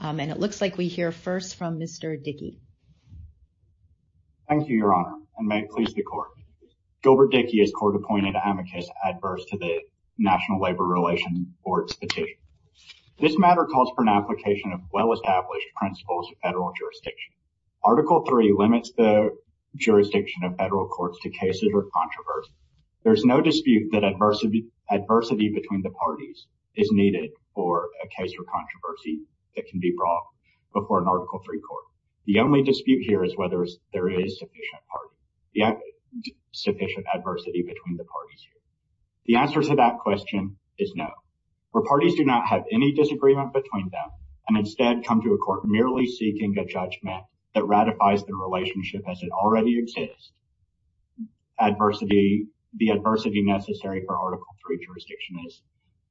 and it looks like we hear first from Mr. Dickey. Thank you, Your Honor, and may it please the Court. Gilbert Dickey is court-appointed amicus adverse to the National Labor Relations Board Statute. This matter calls for an application of well-established principles of federal jurisdiction. Article 3 limits the jurisdiction of federal courts to cases or controversy. There's no dispute that adversity between the parties is needed for a case or controversy that can be brought before an Article 3 court. The only dispute here is whether there is sufficient adversity between the parties. The answer to that question is no. Where parties do not have any disagreement between them and instead come to a court merely seeking a judgment that ratifies the relationship as it already exists, the adversity necessary for Article 3 jurisdiction is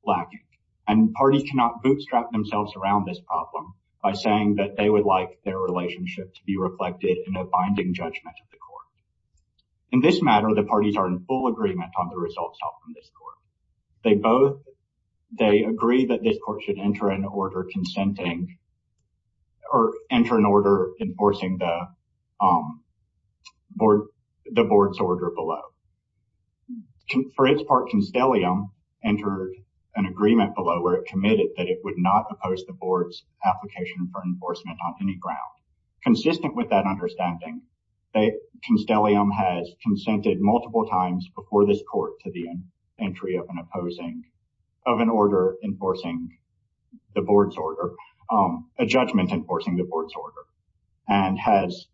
lacking. And parties cannot bootstrap themselves around this problem by saying that they would like their relationship to be reflected in a binding judgment of the court. In this matter, the parties are in full agreement on the results of this court. They both agree that this court should enter an order enforcing the board's order below. For its part, Constellium entered an agreement below where it committed that it would not oppose the board's application for enforcement on any ground. Consistent with that understanding, Constellium has consented multiple times before this court to the entry of an opposing, of an order enforcing the board's order, a judgment enforcing the board's order, and has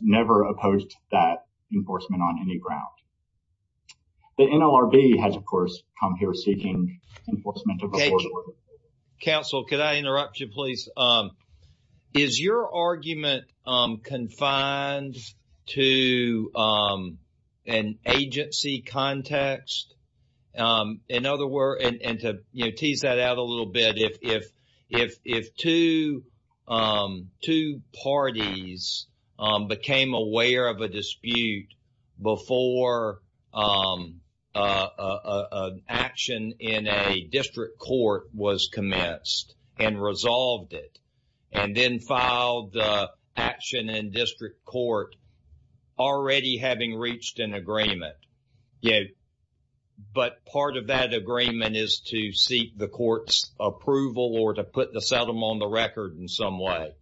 never opposed that enforcement on any ground. The NLRB has, of course, come here seeking enforcement of a board order. Counsel, could I interrupt you, please? Is your argument confined to an agency context? In other words, and to tease that out a little bit, if two parties became aware of a dispute before an action in a district court was commenced and resolved it, and then filed action in district court already having reached an agreement, but part of that agreement is to seek the court's approval or to put the settlement on the record in some way.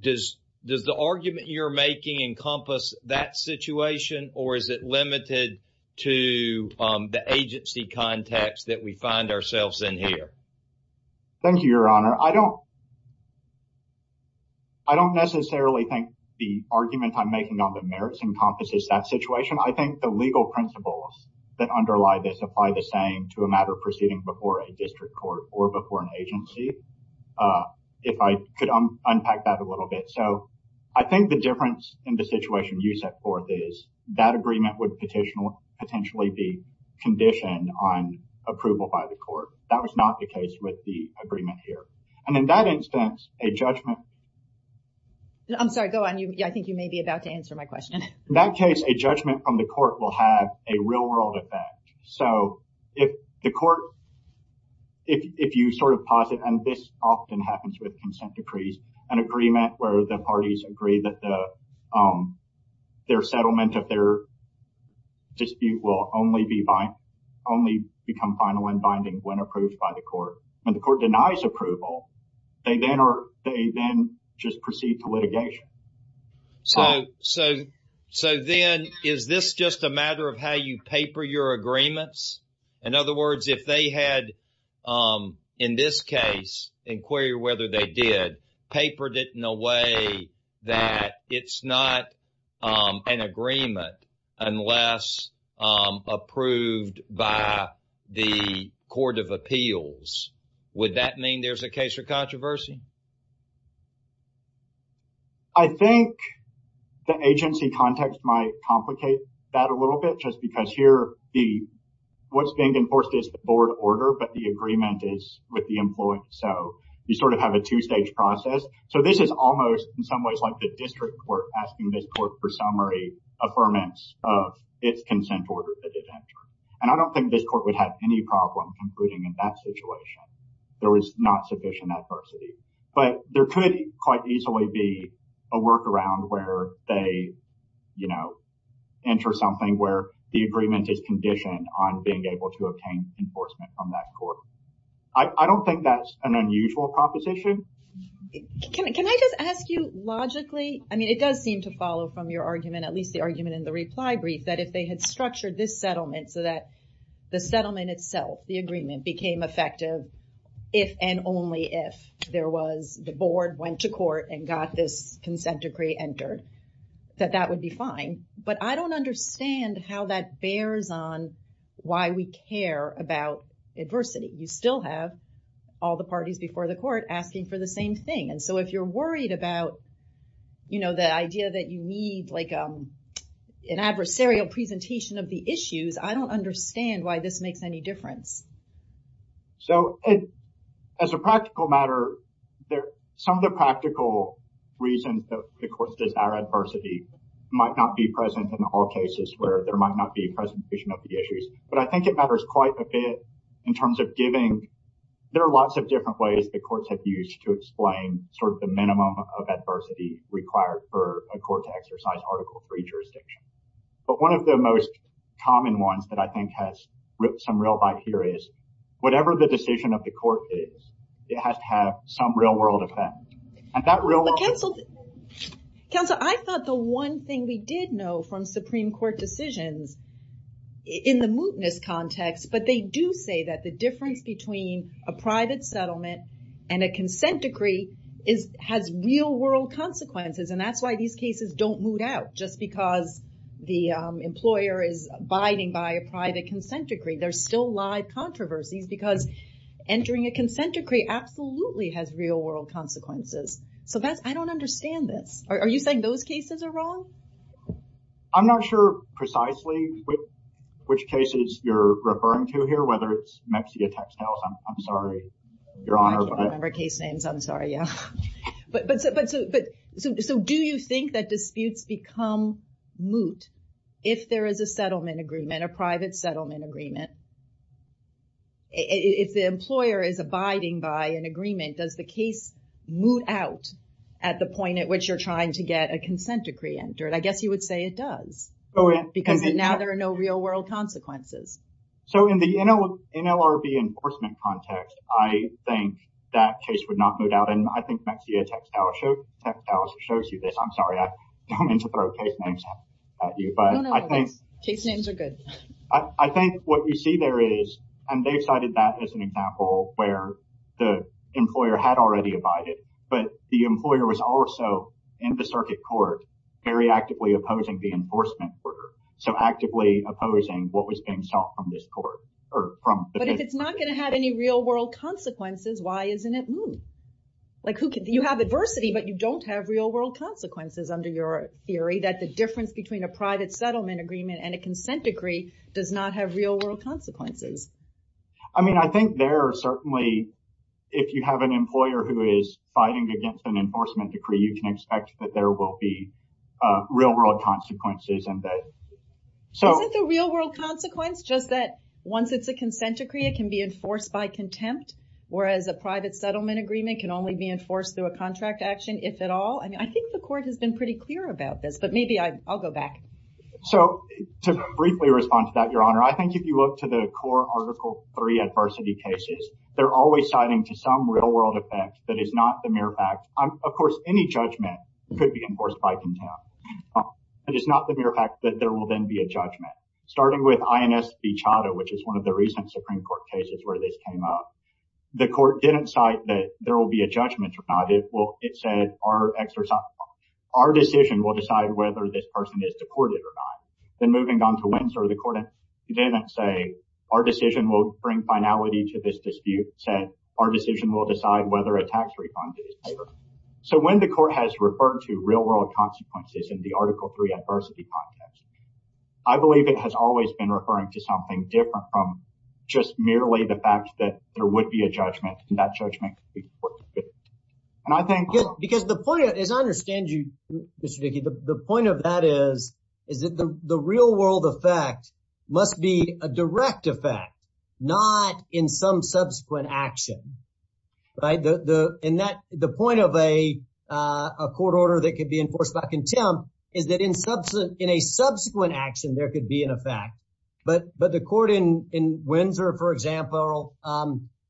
Does the argument you're making encompass that situation, or is it where we find ourselves in here? Thank you, Your Honor. I don't necessarily think the argument I'm making on the merits encompasses that situation. I think the legal principles that underlie this apply the same to a matter proceeding before a district court or before an agency, if I could unpack that a little bit. So, I think the difference in the That was not the case with the agreement here. And in that instance, a judgment... I'm sorry, go on. I think you may be about to answer my question. In that case, a judgment from the court will have a real-world effect. So, if the court, if you sort of posit, and this often happens with consent decrees, an agreement where the parties agree that their settlement of their dispute will only become final and binding when approved by the court. When the court denies approval, they then just proceed to litigation. So, then, is this just a matter of how you paper your agreements? In other words, if they had, in this case, inquire whether they did, papered it in a way that it's not an agreement unless approved by the court of appeals, would that mean there's a case for controversy? I think the agency context might complicate that a little bit, just because here, what's being enforced is the board order, but the agreement is with the employee. So, you sort of have a two-stage process. So, this is almost, in some ways, like the district court asking this court for summary affirmance of its consent order that it entered. And I don't think this court would have any problem concluding in that situation. There was not sufficient adversity. But there could quite easily be a workaround where they, you know, enter something where the agreement is conditioned on being able to obtain enforcement from that court. I don't think that's an unusual proposition. Can I just ask you logically? I mean, it does seem to follow from your argument, at least the argument in the reply brief, that if they had structured this settlement so that the settlement itself, the agreement, became effective if and only if there was, the board went to court and got this consent decree entered, that that would be fine. But I don't understand how that bears on why we care about adversity. You still have all the parties before the court asking for the same thing. And so, if you're worried about, you know, the idea that you need, like, an adversarial presentation of the issues, I don't understand why this makes any difference. So, as a practical matter, some of the practical reasons that the court says, our adversity might not be present in all cases where there might not be a presentation of the issues. But I think it matters quite a bit in terms of giving, there are lots of different ways the courts have used to explain sort of the minimum of adversity required for a court to exercise article three jurisdiction. But one of the most common ones that I think has some real bite here is, whatever the decision of the court is, it has to have some real world effect. And that real world... But counsel, I thought the one thing we did know from Supreme Court decisions in the mootness context, but they do say that the difference between a private settlement and a consent decree has real world consequences. And that's why these cases don't moot out just because the employer is abiding by a private consent decree. There's still live controversies because entering a consent decree absolutely has real world consequences. So that's, I don't understand this. Are you saying those cases are wrong? I'm not sure precisely which cases you're referring to here, whether it's Mexico textiles. I'm sorry, Your Honor. I don't remember case names. I'm sorry. Yeah. So do you think that disputes become moot if there is a settlement agreement, a private settlement agreement? If the employer is abiding by an agreement, does the case moot out at the point at which you're trying to get a consent decree entered? I guess you would say it does because now there are no real world consequences. So in the NLRB enforcement context, I think that case would not moot out. And I think Mexico textiles shows you this. I'm going to throw case names at you. No, no. Case names are good. I think what you see there is, and they cited that as an example where the employer had already abided, but the employer was also in the circuit court very actively opposing the enforcement order. So actively opposing what was being sought from this court. But if it's not going to have any real world consequences, why isn't it moot? You have adversity, but you don't have real world consequences under your theory that the difference between a private settlement agreement and a consent decree does not have real world consequences. I mean, I think there are certainly, if you have an employer who is fighting against an enforcement decree, you can expect that there will be real world consequences. Isn't the real world consequence just that once it's a consent decree, it can be enforced by contempt. Whereas a private settlement agreement can only be enforced through a contract action, if at all. I mean, I think the court has been pretty clear about this, but maybe I'll go back. So to briefly respond to that, Your Honor, I think if you look to the core Article III adversity cases, they're always citing to some real world effect that is not the mere fact. Of course, any judgment could be enforced by contempt. It is not the mere fact that there will then be a judgment. Starting with INS Bichata, which is one of the recent Supreme Court cases where this came up, the court didn't cite that there will be a judgment or not. It said, our exercise, our decision will decide whether this person is deported or not. Then moving on to Windsor, the court didn't say, our decision will bring finality to this dispute. It said, our decision will decide whether a tax refund is paid. So when the court has referred to real world consequences in the Article III adversity context, I believe it has always been referring to something different from just merely the fact that there would be a judgment and that judgment. And I think- Because the point, as I understand you, Mr. Dickey, the point of that is, is that the real world effect must be a direct effect, not in some subsequent action. Right? The point of a court order that could be enforced by contempt is that in a subsequent action, there could be an effect. But the court in Windsor, for example,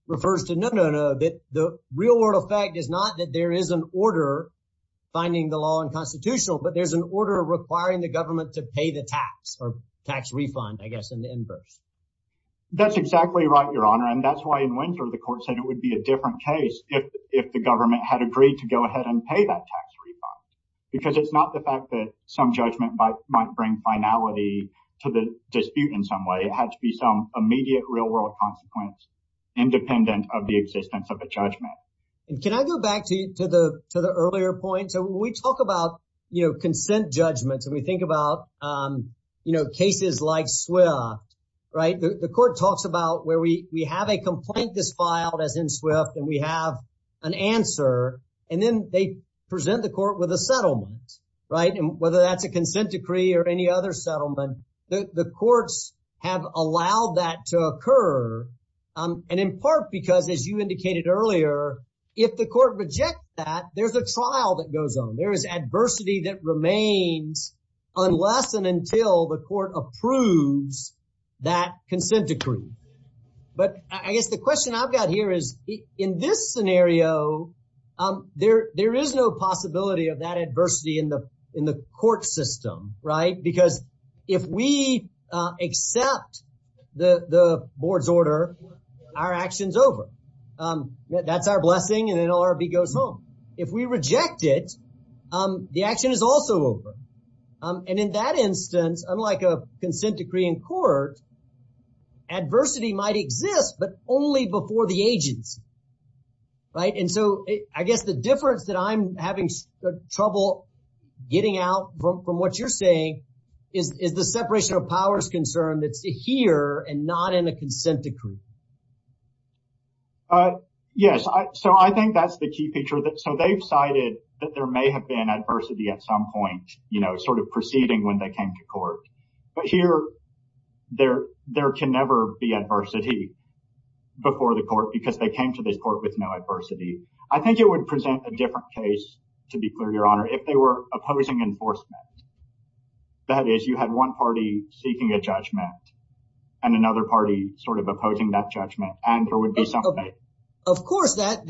refers to no, no, no, that the real world effect is not that there is an order finding the law and constitutional, but there's an order requiring the government to pay the tax or tax refund, I guess, in the inverse. That's exactly right, Your Honor. And that's why in Windsor, the court said it would be a different case if the government had agreed to go ahead and pay that tax refund. Because it's not the to the dispute in some way, it had to be some immediate real world consequence, independent of the existence of a judgment. And can I go back to the earlier point? So, we talk about, you know, consent judgments, and we think about, you know, cases like Swift, right? The court talks about where we have a complaint that's filed as in Swift, and we have an answer, and then they present the court with a settlement, right? And whether that's a consent decree or any other settlement, the courts have allowed that to occur. And in part, because, as you indicated earlier, if the court rejects that, there's a trial that goes on. There is adversity that remains unless and until the court approves that consent decree. But I guess the question I've got here is, in this scenario, there is no possibility of that adversity in the court system, right? Because if we accept the board's order, our action's over. That's our blessing, and then LRB goes home. If we reject it, the action is also over. And in that instance, unlike a consent decree in court, adversity might exist, but only before the agency, right? And so I guess the difference that I'm having trouble getting out from what you're saying is the separation of powers concern that's here and not in a consent decree. Yes, so I think that's the key feature. So they've cited that there may have been adversity at some point, you know, sort of preceding when they came to court. But here, there can never be adversity before the court because they came to this court with no adversity. I think it would present a different case, to be clear, Your Honor, if they were opposing enforcement. That is, you had one party seeking a judgment and another party sort of opposing that judgment, and there would be some faith. Of course, that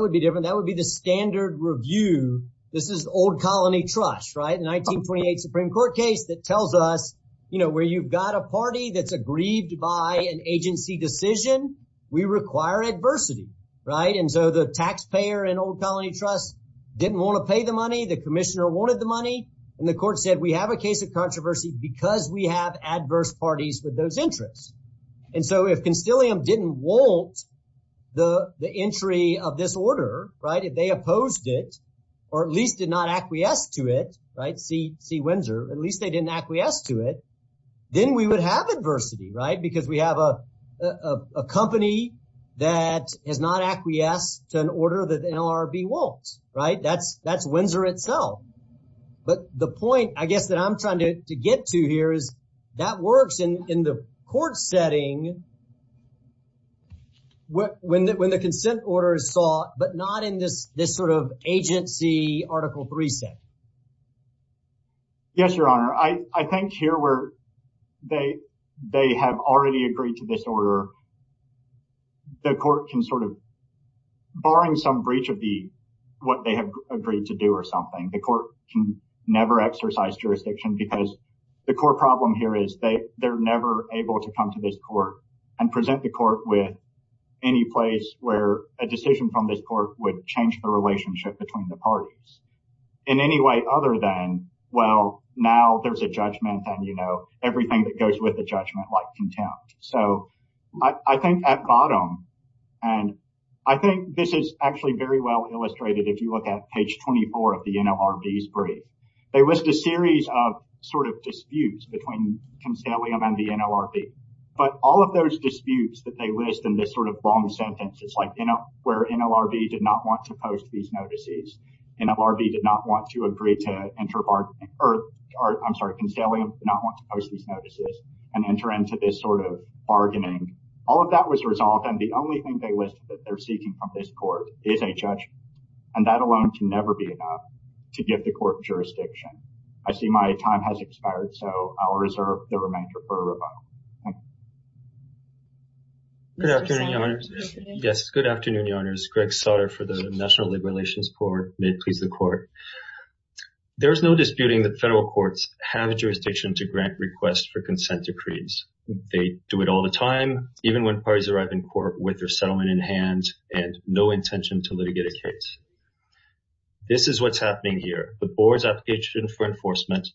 would be different. That would be the standard review. This is old colony trust, 1928 Supreme Court case that tells us, you know, where you've got a party that's aggrieved by an agency decision, we require adversity, right? And so the taxpayer and old colony trust didn't want to pay the money. The commissioner wanted the money. And the court said, we have a case of controversy because we have adverse parties with those interests. And so if Constellium didn't want the entry of this order, right, if they opposed it, or at least did not acquiesce to it, right, see Windsor, at least they didn't acquiesce to it, then we would have adversity, right? Because we have a company that has not acquiesced to an order that the NLRB won't, right? That's Windsor itself. But the point, I guess, that I'm trying to get to here is that works in the court setting. When the consent order is sought, but not in this sort of agency Article III setting. Yes, Your Honor. I think here where they have already agreed to this order, the court can sort of, barring some breach of what they have agreed to do or something, the court can never exercise jurisdiction because the core problem here is they're never able to and present the court with any place where a decision from this court would change the relationship between the parties in any way other than, well, now there's a judgment and, you know, everything that goes with the judgment like contempt. So I think at bottom, and I think this is actually very well illustrated if you look at page 24 of the NLRB's brief, they list a series of sort of disputes between Consalium and the NLRB. But all of those disputes that they list in this sort of long sentence, it's like, you know, where NLRB did not want to post these notices. NLRB did not want to agree to enter bargaining, or I'm sorry, Consalium did not want to post these notices and enter into this sort of bargaining. All of that was resolved and the only thing they list that they're seeking from this court is a judgment. And that alone can I see my time has expired, so I'll reserve the remainder for Reba. Good afternoon, Your Honors. Yes, good afternoon, Your Honors. Greg Sautter for the National Labor Relations Court. May it please the Court. There is no disputing that federal courts have a jurisdiction to grant requests for consent decrees. They do it all the time, even when parties arrive in court with their settlement in hand and no intention to litigate a case. This is what's happening here. The board's application for enforcement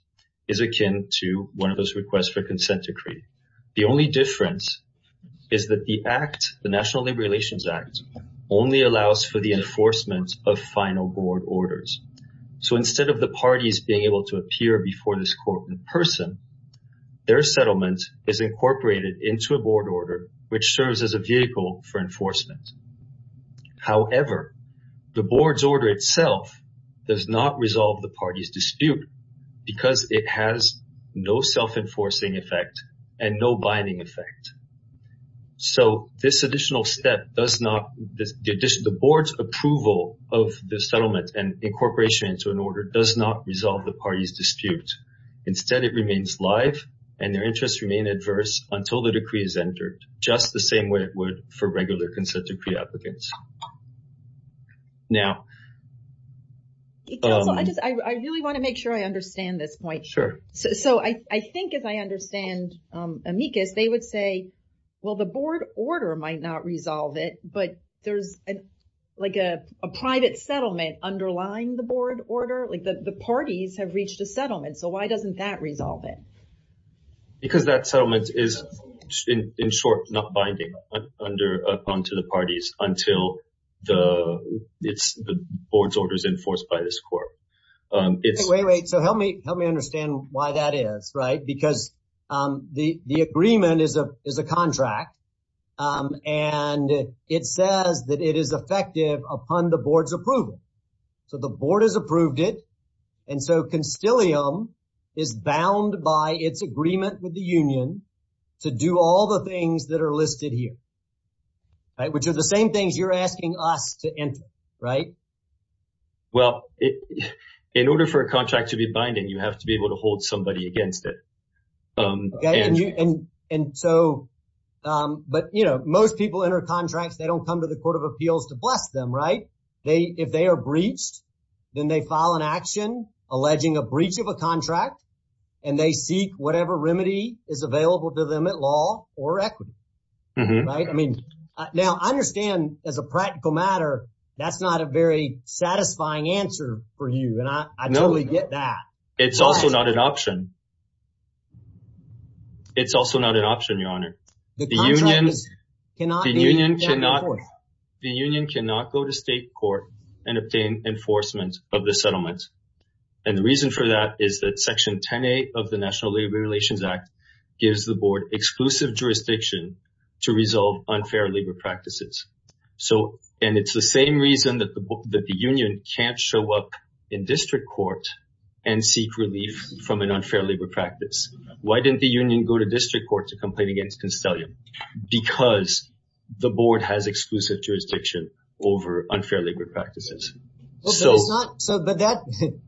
is akin to one of those requests for consent decree. The only difference is that the act, the National Labor Relations Act, only allows for the enforcement of final board orders. So instead of the parties being able to appear before this court in person, their settlement is incorporated into a board order, which serves as a vehicle for enforcement. However, the board's order itself does not resolve the party's dispute because it has no self-enforcing effect and no binding effect. So this additional step does not, the board's approval of the settlement and incorporation into an order does not resolve the party's dispute. Instead, it remains live and their consent decree is entered, just the same way it would for regular consent decree applicants. Now, I just, I really want to make sure I understand this point. Sure. So I think if I understand, Amicus, they would say, well, the board order might not resolve it, but there's like a private settlement underlying the board order, like the parties have reached a settlement. So why doesn't that resolve it? Because that settlement is in short, not binding under, upon to the parties until the, it's the board's orders enforced by this court. Wait, wait. So help me, help me understand why that is, right? Because the, the agreement is a, is a contract. And it says that it is effective upon the board's approval. So the board has is bound by its agreement with the union to do all the things that are listed here, right? Which are the same things you're asking us to enter, right? Well, in order for a contract to be binding, you have to be able to hold somebody against it. Okay. And you, and, and so but you know, most people enter contracts, they don't come to the court of appeals to bless them, right? They, if they are breached, then they file an action, alleging a breach of a contract and they seek whatever remedy is available to them at law or equity, right? I mean, now I understand as a practical matter, that's not a very satisfying answer for you. And I, I totally get that. It's also not an option. It's also not an option, your honor. The union, the union cannot, the union cannot go to state court and obtain enforcement of the settlement. And the reason for that is that section 10A of the National Labor Relations Act gives the board exclusive jurisdiction to resolve unfair labor practices. So, and it's the same reason that the union can't show up in district court and seek relief from an unfair labor practice. Why didn't the union go to district court to complain against unfair labor practices? So it's not, so, but that,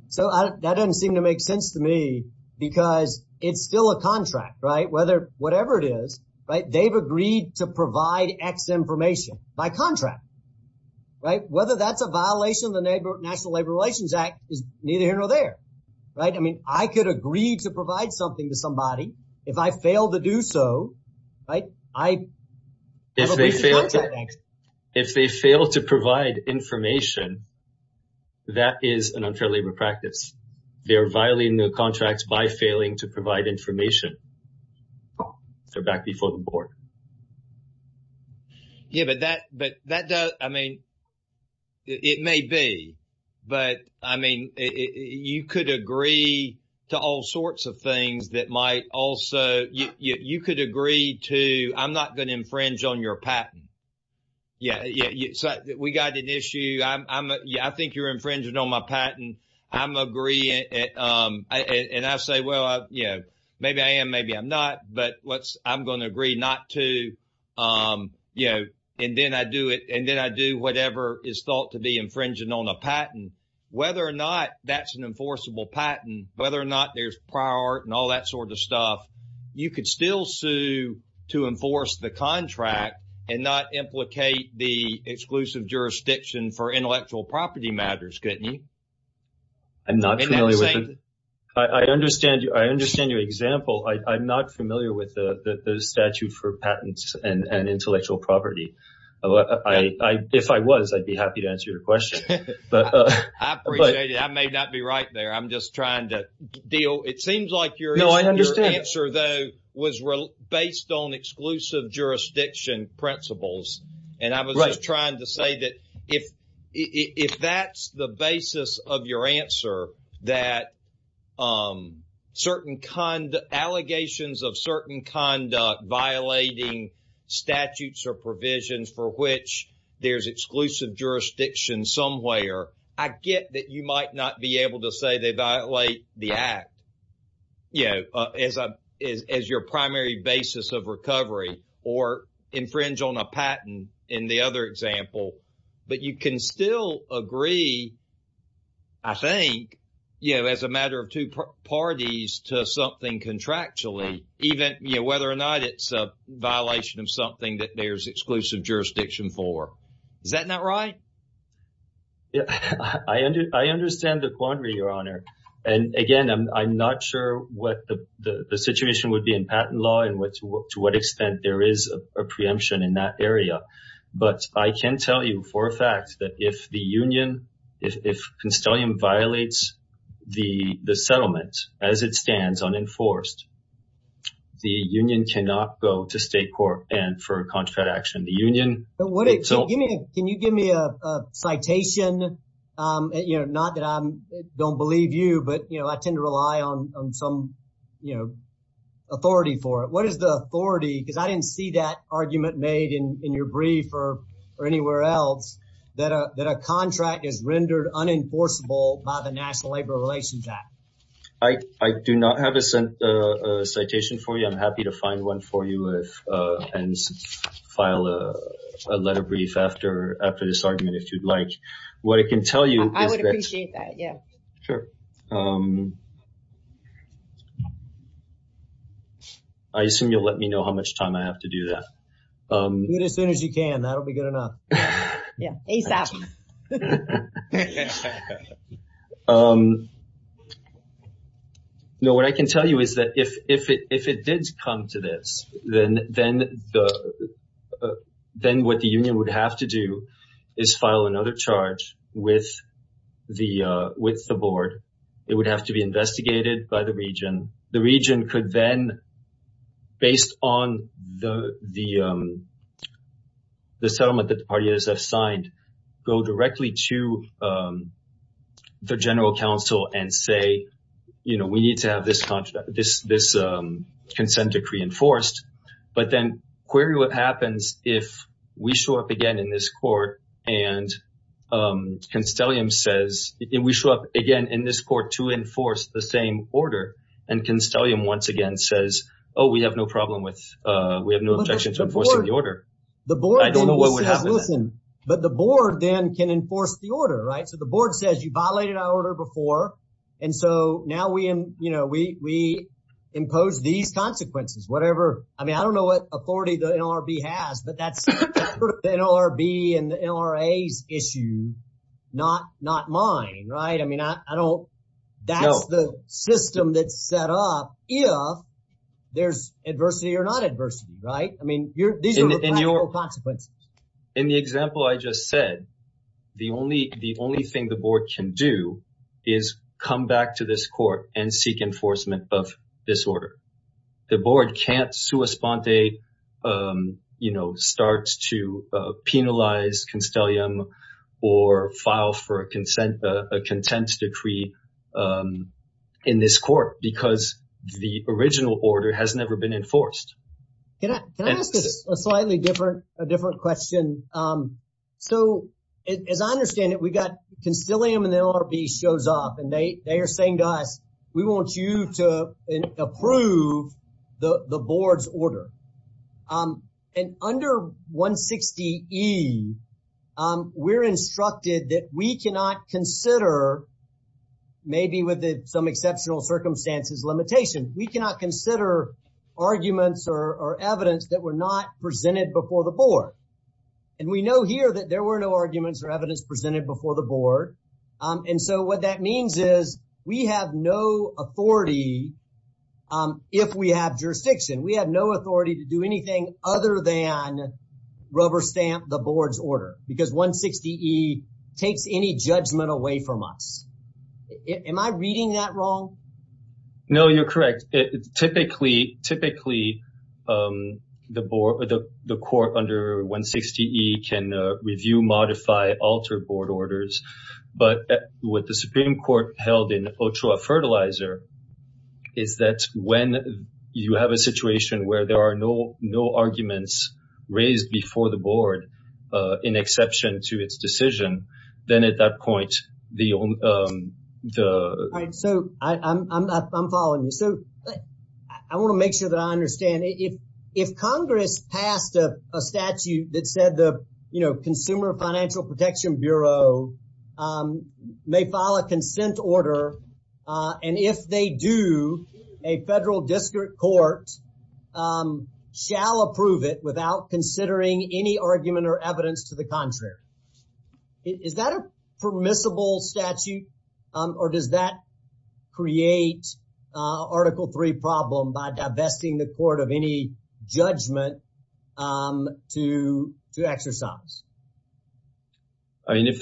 so that doesn't seem to make sense to me because it's still a contract, right? Whether, whatever it is, right, they've agreed to provide X information by contract, right? Whether that's a violation of the National Labor Relations Act is neither here nor there, right? I mean, I could agree to provide something to somebody if I fail to do so, right? If they fail, if they fail to provide information, that is an unfair labor practice. They are violating the contracts by failing to provide information. They're back before the board. Yeah, but that, but that does, I mean, it may be, but I mean, you could agree to all sorts of things that might also, you could agree to, I'm not going to infringe on your patent. Yeah, yeah, so we got an issue. I'm, I'm, yeah, I think you're infringing on my patent. I'm agreeing, and I say, well, I, you know, maybe I am, maybe I'm not, but what's, I'm going to agree not to, you know, and then I do it, is thought to be infringing on a patent, whether or not that's an enforceable patent, whether or not there's prior and all that sort of stuff, you could still sue to enforce the contract and not implicate the exclusive jurisdiction for intellectual property matters, couldn't you? I'm not familiar with it. I understand, I understand your example. I'm not familiar with the statute for patents and intellectual property. If I was, I'd be happy to answer your question. I appreciate it. I may not be right there. I'm just trying to deal, it seems like your answer, though, was based on exclusive jurisdiction principles, and I was just trying to say that if, if that's the basis of your answer, that certain, allegations of certain conduct violating statutes or provisions for which there's exclusive jurisdiction somewhere, I get that you might not be able to say they violate the Act, you know, as a, as your primary basis of recovery or infringe on a patent in the other example, but you can still agree, I think, you know, as a matter of two parties to something contractually, even, you know, whether or not it's a violation of something that there's exclusive jurisdiction for. Is that not right? Yeah, I under, I understand the quandary, Your Honor. And again, I'm not sure what the, the situation would be in patent law and what, to what extent there is a preemption in that area. But I can tell you for a fact that if the union, if, if Constellium violates the, the settlement as it stands unenforced, the union cannot go to state court and for contract action, the union. Give me, can you give me a citation? You know, not that I don't believe you, but, you know, I tend to rely on some, you know, authority for it. What is the authority? Because I didn't see that argument made in your brief or, or anywhere else that a, that a contract is rendered unenforceable by the National Labor Relations Act. I do not have a citation for you. I'm happy to a letter brief after, after this argument, if you'd like. What I can tell you, I would appreciate that. Yeah, sure. I assume you'll let me know how much time I have to do that. Do it as soon as you can. That'll be good enough. Yeah, ASAP. No, what I can tell you is that if, if it, if it did come to this, then, then the, then what the union would have to do is file another charge with the, with the board. It would have to be investigated by the region. The region could then, based on the, the, the settlement that the parties have signed, go directly to the general counsel and say, you know, we need to have this, this, this consent decree enforced, but then query what happens if we show up again in this court and Constellium says, and we show up again in this court to enforce the same order and Constellium once again says, oh, we have no problem with, we have no objection to enforcing the order. I don't know what would happen. Listen, but the board then can enforce the order, right? So the board says you violated our order before. And so now we, you know, we, we impose these consequences, whatever. I mean, I don't know what authority the NLRB has, but that's the NLRB and the NLRA's issue, not, not mine, right? I mean, I don't, that's the system that's set up if there's adversity or not adversity, right? I mean, these are the practical consequences. In the example I just said, the only, the only thing the board can do is come back to this court and seek enforcement of this order. The board can't come back to a sponte, you know, start to penalize Constellium or file for a consent, a contempt decree in this court because the original order has never been enforced. Can I ask a slightly different, a different question? So as I understand it, we got Constellium and the NLRB shows up and they are saying to us, we want you to approve the board's order. And under 160E, we're instructed that we cannot consider, maybe with some exceptional circumstances limitation, we cannot consider arguments or evidence that were not presented before the board. And we know here that there were no arguments or evidence presented before the board. And so what that means is we have no authority. If we have jurisdiction, we have no authority to do anything other than rubber stamp the board's order because 160E takes any judgment away from us. Am I reading that wrong? No, you're correct. Typically, typically the board, the court under 160E can review, modify, alter board orders. But what the Supreme Court held in Ochoa Fertilizer is that when you have a situation where there are no arguments raised before the board, in exception to its decision, then at that point, the... So I'm following you. So I want to make sure that I understand if Congress passed a statute that said the Consumer Financial Protection Bureau may file a consent order. And if they do, a federal district court shall approve it without considering any argument or evidence to the create Article III problem by divesting the court of any judgment to exercise. I mean, if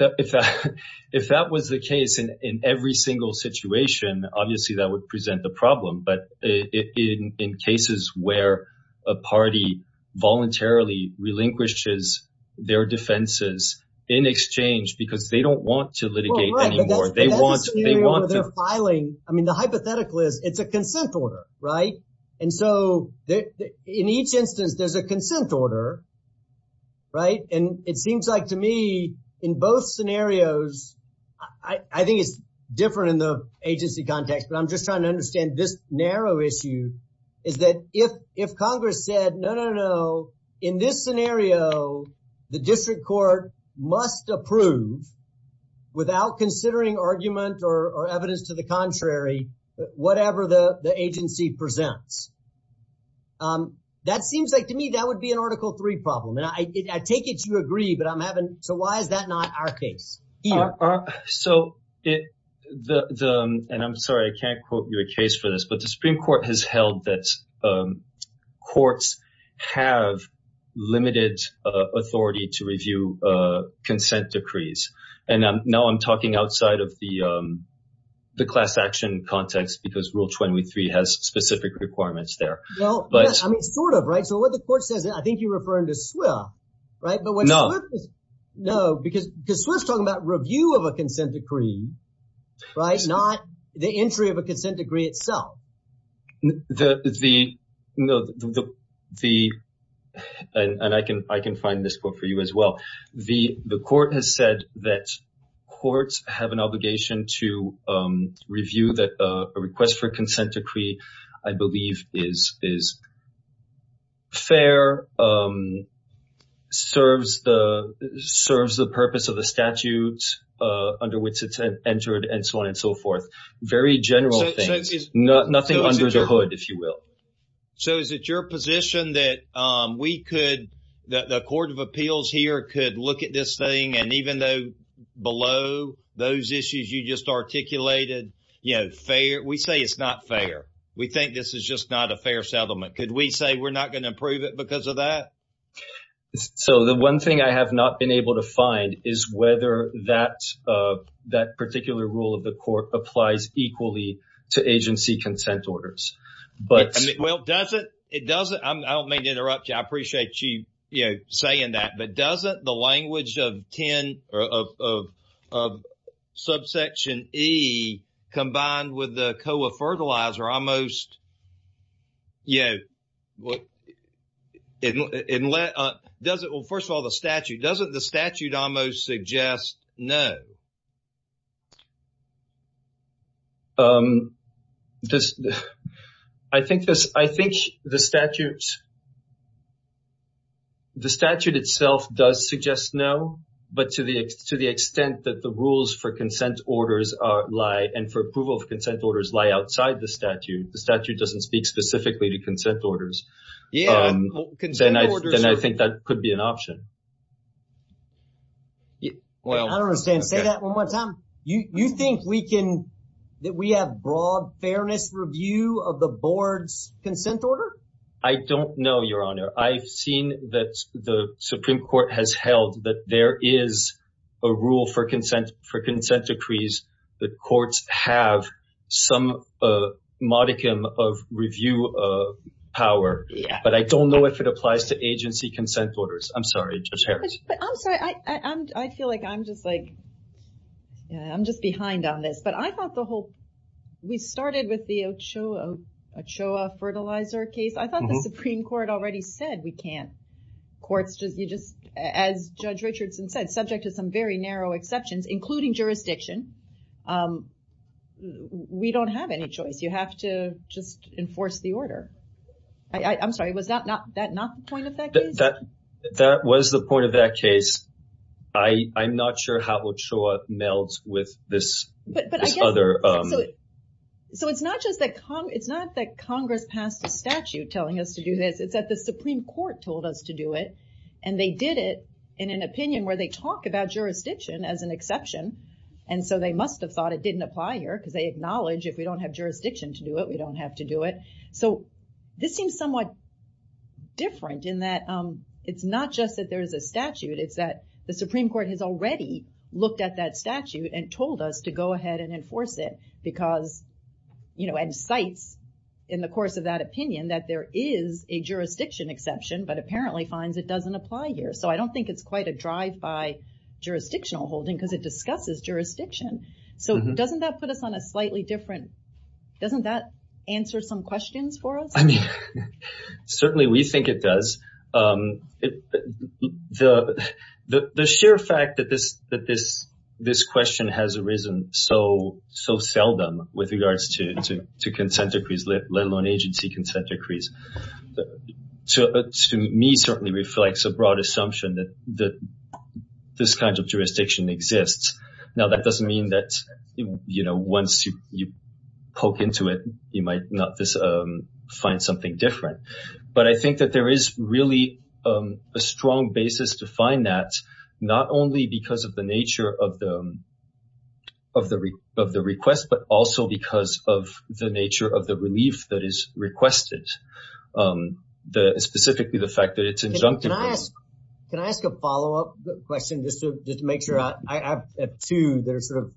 that was the case in every single situation, obviously that would present the problem. But in cases where a party voluntarily relinquishes their defenses in exchange because they don't want to litigate anymore, they want to... But that's the scenario they're filing. I mean, the hypothetical is it's a consent order, right? And so in each instance, there's a consent order, right? And it seems like to me in both scenarios, I think it's different in the agency context, but I'm just trying to understand this narrow issue is that if Congress said, no, no, no, in this scenario, the district court must approve without considering argument or evidence to the contrary, whatever the agency presents. That seems like to me, that would be an Article III problem. And I take it you agree, but I'm having... So why is that not our case? Ian. So the... And I'm sorry, I can't quote you a case for this, but the Supreme Court has held that courts have limited authority to review consent decrees. And now I'm talking outside of the class action context because Rule 23 has specific requirements there. Well, I mean, sort of, right? So what the court says, I think you're referring to SWIFT, right? But when SWIFT... No. No, because SWIFT's talking about review of a consent decree, right? Not the entry of a consent decree itself. The... And I can find this book for you as well. The court has said that courts have an obligation to review that a request for consent decree, I believe is fair, serves the purpose of the statute under which it's entered and so on and so forth. Very general things, nothing under the hood, if you will. So is it your position that we could, the Court of Appeals here could look at this thing and even though below those issues you just articulated, you know, fair... We say it's not fair. We think this is just not a fair settlement. Could we say we're not going to approve it because of that? So the one thing I have not been able to find is whether that particular rule of the court applies equally to agency consent orders. But... Well, doesn't... It doesn't... I don't mean to interrupt you. I appreciate you, you know, saying that. But doesn't the language of subsection E combined with the COA fertilizer are almost... Yeah. Well, first of all, the statute, doesn't the statute almost suggest no? I think the statute itself does suggest no. But to the extent that the rules for consent orders lie and for approval of consent orders lie outside the statute, the statute doesn't speak specifically to consent orders. Yeah, consent orders... Then I think that could be an option. Well... I don't understand. Say that one more time. You think we can, that we have broad fairness review of the board's consent order? I don't know, Your Honor. I've seen that the Supreme Court has held that there is a rule for consent decrees that courts have some modicum of review power. Yeah. But I don't know if it applies to agency consent orders. I'm sorry, Judge Harris. But I'm sorry. I feel like I'm just like... I'm just behind on this. But I thought the whole... We started with the Ochoa fertilizer case. I thought the Supreme Court already said we can't as Judge Richardson said, subject to some very narrow exceptions, including jurisdiction. We don't have any choice. You have to just enforce the order. I'm sorry. Was that not the point of that case? That was the point of that case. I'm not sure how Ochoa melds with this other... So it's not that Congress passed a statute telling us to do this. It's that the Supreme Court told us to do it and they did it in an opinion where they talk about jurisdiction as an exception. And so they must have thought it didn't apply here because they acknowledge if we don't have jurisdiction to do it, we don't have to do it. So this seems somewhat different in that it's not just that there's a statute, it's that the Supreme Court has already looked at that statute and told us to go ahead and enforce it because... And cites in the course of that opinion that there is a jurisdiction exception, but apparently finds it doesn't apply here. So I don't think it's quite a drive by jurisdictional holding because it discusses jurisdiction. So doesn't that put us on a slightly different... Doesn't that answer some questions for us? I mean, certainly we think it does. The sheer fact that this question has arisen so seldom with regards to consent decrees, let alone agency consent decrees, to me certainly reflects a broad assumption that this kind of jurisdiction exists. Now, that doesn't mean that once you poke into it, you might not find something different. But I think that there is really a strong basis to find that not only because of the nature of the request, but also because of the nature of the relief that is requested. Specifically, the fact that it's injunctive... Can I ask a follow-up question just to make sure? I have two that are sort of,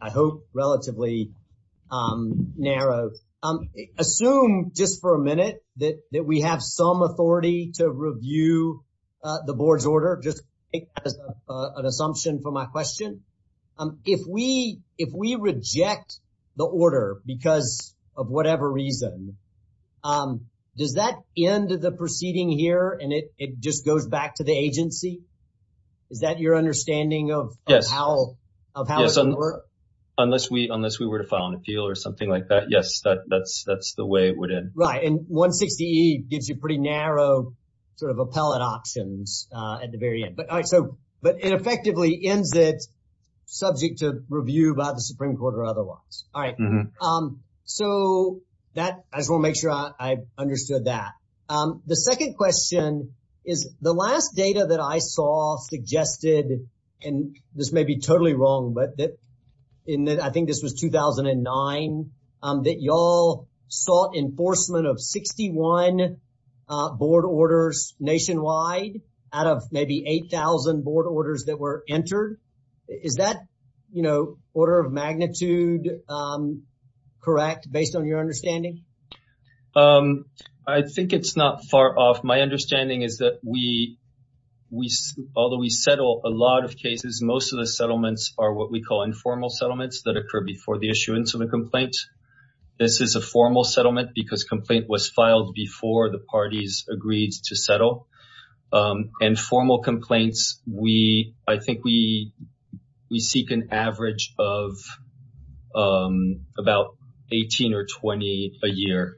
I hope, relatively narrow. Assume just for a minute that we have some order because of whatever reason. Does that end the proceeding here and it just goes back to the agency? Is that your understanding of how it's going to work? Yes. Unless we were to file an appeal or something like that, yes, that's the way it would end. Right. And 160E gives you pretty narrow sort of appellate options at the very end. But it effectively ends it subject to review by the Supreme Court or otherwise. All right. So, I just want to make sure I understood that. The second question is the last data that I saw suggested, and this may be totally wrong, but I think this was 2009, that you all sought enforcement of 61 board orders nationwide out of maybe 8,000 board orders that were entered. Is that order of magnitude correct based on your understanding? I think it's not far off. My understanding is that although we settle a lot of cases, most of the settlements are what we call informal settlements that occur before the issuance of a complaint. This is a formal settlement because complaint was filed before the parties agreed to settle. And formal complaints, I think we seek an average of about 18 or 20 a year.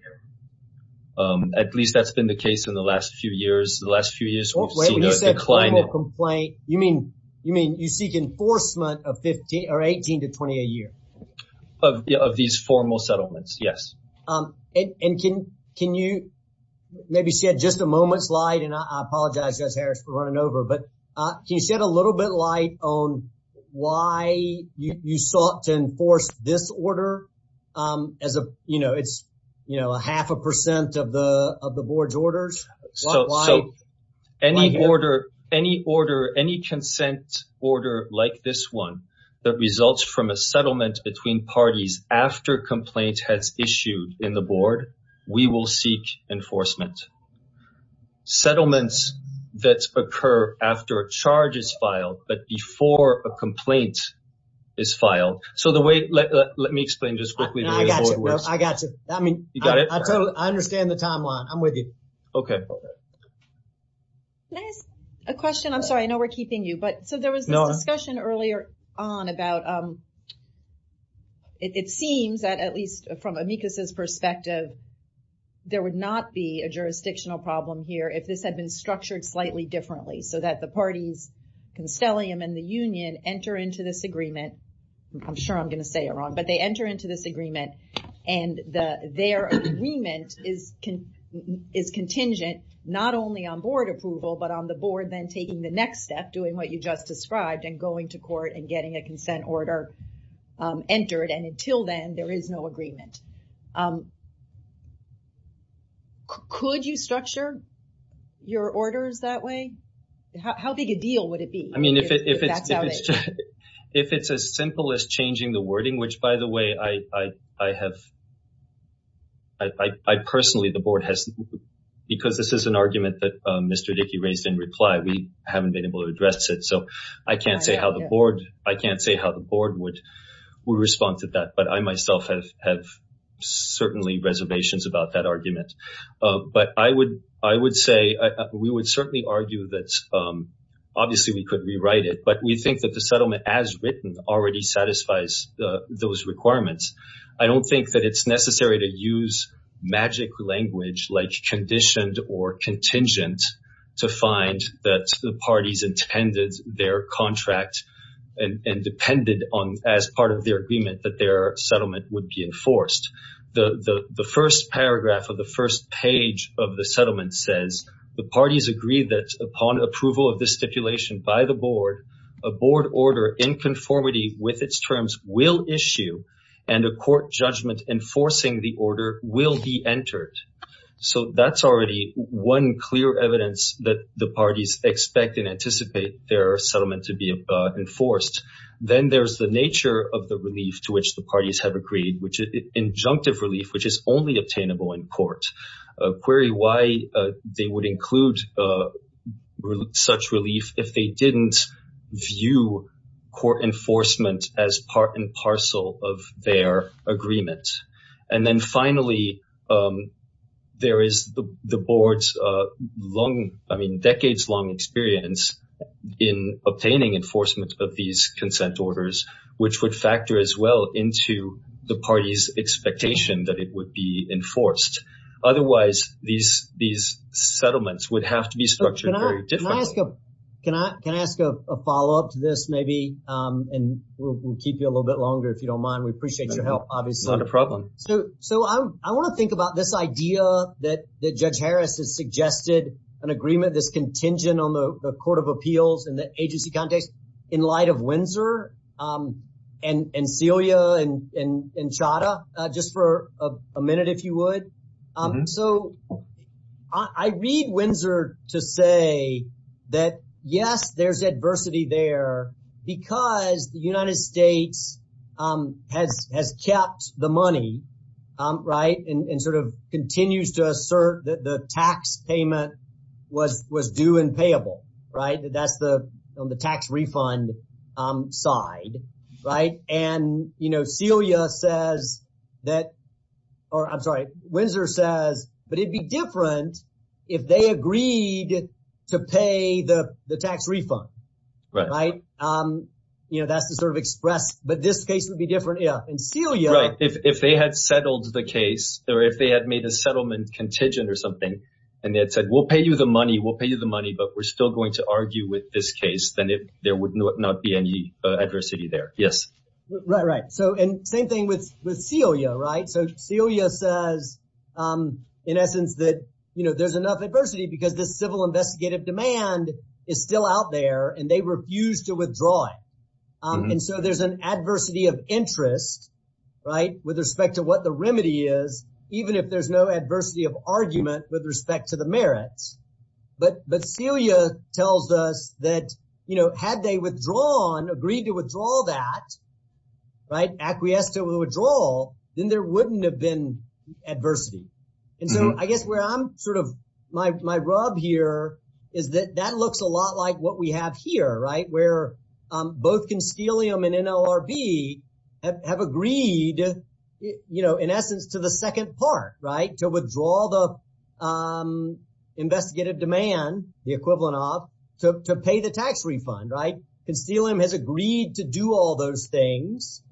At least that's been the case in the last few years. The last few years, we've seen a decline. When you say formal complaint, you mean you seek enforcement of 18 to 20 a year? Of these formal settlements, yes. And can you maybe shed just a moment's light, and I apologize, Judge Harris, for running over, but can you shed a little bit light on why you sought to enforce this order? It's a half a percent of the board's orders. So any order, any order, any consent order like this one that results from a settlement between parties after complaint has issued in the board, we will seek enforcement. Settlements that occur after a charge is filed, but before a complaint is filed. So the way, let me explain just quickly. I got you. You got it? I understand the timeline. I'm with you. Okay. Can I ask a question? I'm sorry, I know we're keeping you, but so there was this discussion earlier on about, it seems that at least from amicus's perspective, there would not be a jurisdictional problem here if this had been structured slightly differently so that the parties, Constellium and the union enter into this agreement. I'm sure I'm going to say it wrong, but they enter into this agreement and their agreement is contingent not only on board approval, but on the board then taking the next step, doing what you just described and going to court and getting a consent order entered. And until then, there is no agreement. Could you structure your orders that way? How big a deal would it be? I mean, if it's as simple as changing the wording, which by the way, I personally, the board has, because this is an argument that Mr. Dickey raised in reply, we haven't been able to address it. So I can't say how the board would respond to that, but I myself have certainly reservations about that argument. But I would say, we would certainly argue that obviously we could rewrite it, but we think that the settlement as written already satisfies those requirements. I don't think that it's necessary to use magic language like conditioned or contingent to find that the parties intended their contract and depended on as part of their agreement that their settlement would be enforced. The first paragraph of the first page of the settlement says the parties agree that upon approval of this stipulation by the board, a board order in conformity with its terms will issue and a court judgment enforcing the order will be entered. So that's already one clear evidence that the parties expect and anticipate their settlement to be enforced. Then there's the nature of the relief to which the parties have agreed, which is injunctive relief, which is only obtainable in court. Query why they would include such relief if they didn't view court enforcement as part and parcel of their agreement. And then finally, there is the board's decades-long experience in obtaining enforcement of these consent orders, which would factor as well into the party's expectation that it would be enforced. Otherwise, these settlements would have to be structured. Can I ask a follow-up to this, maybe? And we'll keep you a little bit longer if you don't mind. We appreciate your help, obviously. Not a problem. So I want to think about this idea that Judge appeals in the agency context in light of Windsor and Celia and Chadha, just for a minute, if you would. So I read Windsor to say that, yes, there's adversity there because the United States has kept the money, right, and sort of continues to assert that the tax payment was due and payable, right? That's on the tax refund side, right? And, you know, Celia says that, or I'm sorry, Windsor says, but it'd be different if they agreed to pay the tax refund, right? You know, that's the sort of express, but this case would be different. Yeah. And Celia... Right. If they had settled the case, or if they had made a settlement contingent or something, and they had said, we'll pay you the money, we'll pay you the money, but we're still going to argue with this case, then there would not be any adversity there. Yes. Right, right. So, and same thing with Celia, right? So Celia says, in essence, that, you know, there's enough adversity because the civil investigative demand is still out there and they refuse to withdraw it. And so there's an adversity of interest, right, with respect to what the remedy is, even if there's no adversity of argument with respect to the merits. But Celia tells us that, you know, had they withdrawn, agreed to withdraw that, right, acquiesced to a withdrawal, then there wouldn't have been adversity. And so I guess where I'm sort of, my rub here is that that looks a lot like what we have here, right? Where both Constelium and NLRB have agreed, you know, in essence, to the second part, right? To withdraw the investigative demand, the equivalent of, to pay the tax refund, right? Constelium has agreed to do all those things,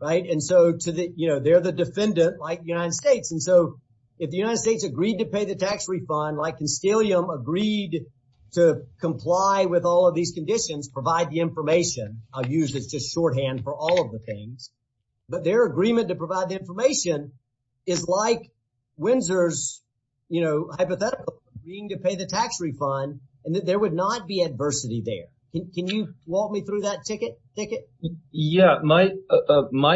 right? And so to the, you know, they're the defendant, like the United States agreed to pay the tax refund, like Constelium agreed to comply with all of these conditions, provide the information, I'll use this just shorthand for all of the things, but their agreement to provide the information is like Windsor's, you know, hypothetical, agreeing to pay the tax refund and that there would not be adversity there. Can you walk me through that ticket? Yeah, my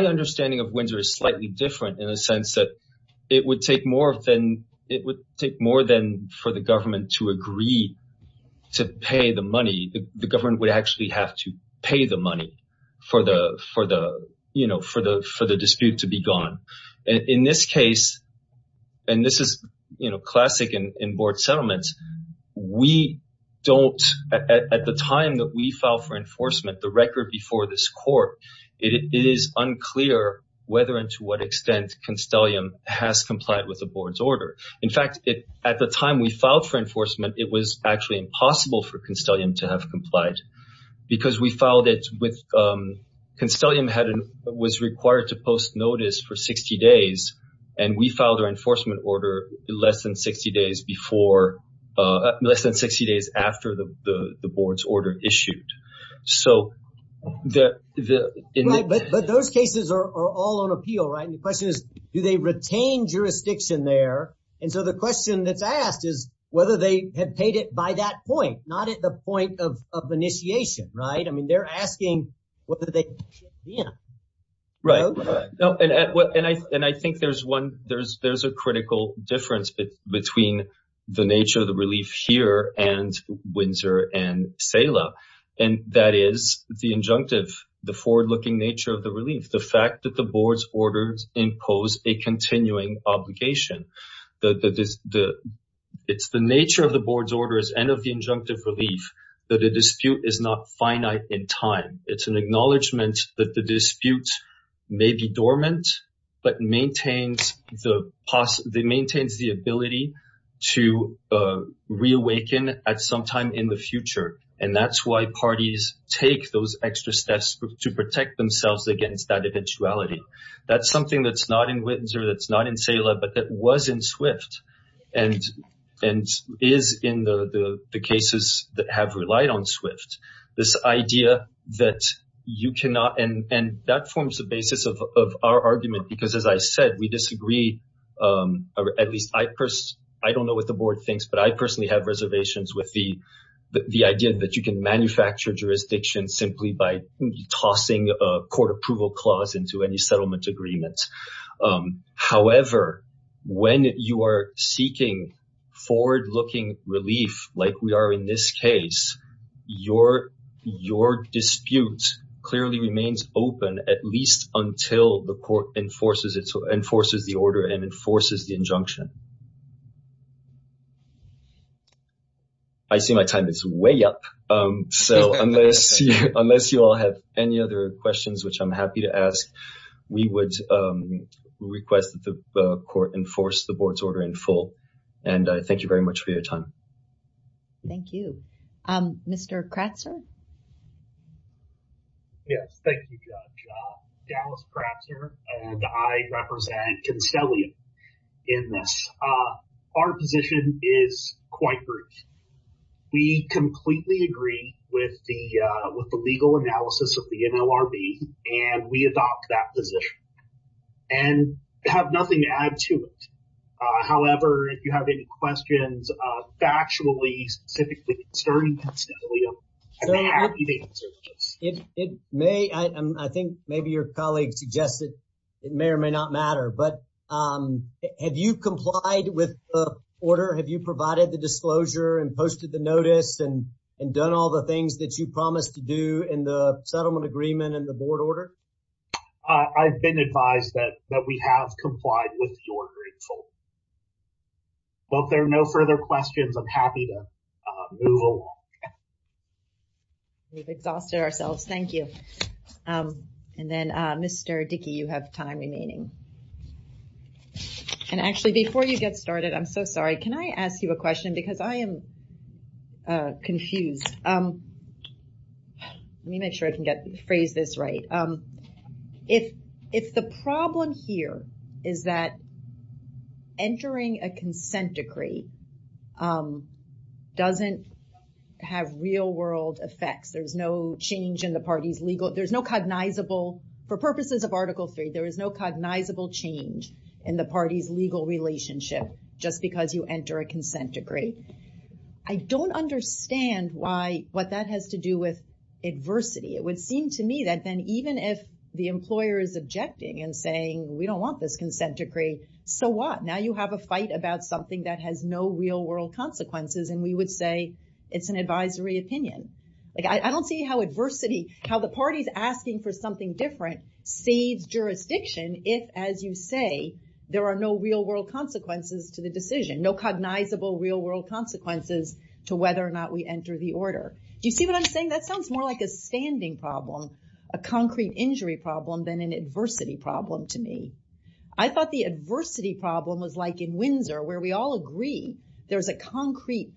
understanding of Windsor is slightly different in a sense that it would take more than, it would take more than for the government to agree to pay the money, the government would actually have to pay the money for the, you know, for the dispute to be gone. In this case, and this is, you know, classic in board settlements, we don't, at the time that we file for enforcement, the record before this court, it is unclear whether and to what extent Constelium has complied with the board's order. In fact, at the time we filed for enforcement, it was actually impossible for Constelium to have complied because we filed it with, Constelium had, was required to post notice for 60 days and we filed our enforcement order less than 60 days before, less than 60 days after the board's order issued. Right, but those cases are all on appeal, right? And the question is, do they retain jurisdiction there? And so the question that's asked is whether they had paid it by that point, not at the point of initiation, right? I mean, they're asking whether they should have been. Right, and I think there's one, there's a critical difference between the nature of the relief here and Windsor and CELA, and that is the injunctive, the forward-looking nature of the relief, the fact that the board's orders impose a continuing obligation. It's the nature of the board's orders and of the injunctive relief that a dispute is not finite in time. It's an sometime in the future, and that's why parties take those extra steps to protect themselves against that eventuality. That's something that's not in Windsor, that's not in CELA, but that was in SWIFT and is in the cases that have relied on SWIFT. This idea that you cannot, and that forms the basis of our argument because as I said, we disagree, or at least I don't know what the board thinks, but I personally have reservations with the idea that you can manufacture jurisdiction simply by tossing a court approval clause into any settlement agreement. However, when you are seeking forward-looking relief like we are in this case, your dispute clearly remains open at least until the court enforces the order and enforces the injunction. I see my time is way up, so unless you all have any other questions, which I'm happy to ask, we would request that the court enforce the board's order in full, and I thank you very much for your time. Thank you. Mr. Kratzer? Yes, thank you, Judge. Dallas Kratzer, and I represent Constellia in this. Our position is quite brief. We completely agree with the legal analysis of the NLRB, and we adopt that position and have nothing to add to it. However, if you have any questions factually, specifically concerning Constellia, I'm happy to answer those. I think maybe your colleague suggested it may or may not matter, but have you complied with the order? Have you provided the disclosure and posted the notice and done all the things that you promised to do in the settlement agreement and the board order? I've been advised that we have complied with the order in full, but if there are no further questions, I'm happy to move along. We've exhausted ourselves. Thank you. And then, Mr. Dickey, you have time remaining. And actually, before you get started, I'm so sorry. Can I ask you a question? Because I am confused. Let me make sure I can phrase this right. If the problem here is that entering a consent decree doesn't have real world effects, there's no change in the party's legal, there's no cognizable, for purposes of Article III, there is no cognizable change in the party's legal relationship just because you enter a consent decree. I don't understand why, what that has to do with adversity. It would seem to me that then even if the employer is objecting and saying, we don't want this consent decree, so what? Now you have a fight about something that has no real world consequences, and we would say it's an advisory opinion. I don't see how adversity, how the party's asking for something different, saves jurisdiction if, as you say, there are no real world consequences to the decision, no cognizable real world consequences to whether or not we enter the order. Do you see what I'm saying? That sounds more like a standing problem, a concrete injury problem than an adversity problem to me. I thought the adversity problem was like in Windsor, where we all agree there's a concrete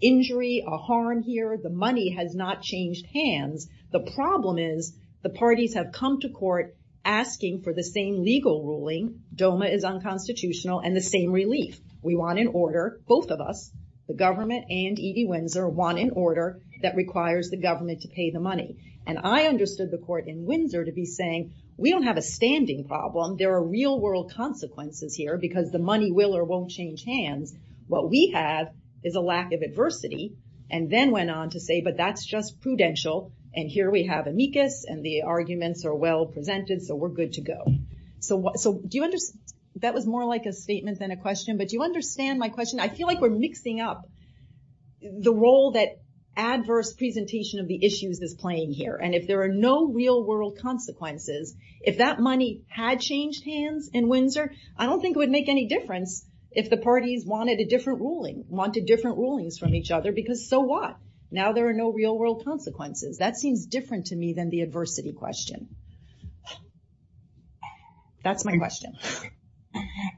injury, a harm here, the money has not changed hands. The problem is the parties have come to court asking for the same legal ruling, DOMA is unconstitutional, and the same relief. We want an order, both of us, the government and E.D. Windsor want an order that requires the government to pay the money. I understood the court in Windsor to be saying, we don't have a standing problem, there are real world consequences here because the money will or won't change hands. What we have is a lack of adversity, and then went on to say, but that's just prudential, and here we have amicus, and the arguments are well presented, so we're good to go. That was more like a statement than a question, but do you understand my question? I feel like we're mixing up the role that adverse presentation of the issues is playing here, and if there are no real world consequences, if that money had changed hands in Windsor, I don't think it would make any difference if the parties wanted a different ruling, wanted different rulings from each other, because so what? Now there are no real world consequences. That seems different to me than the adversity question. That's my question.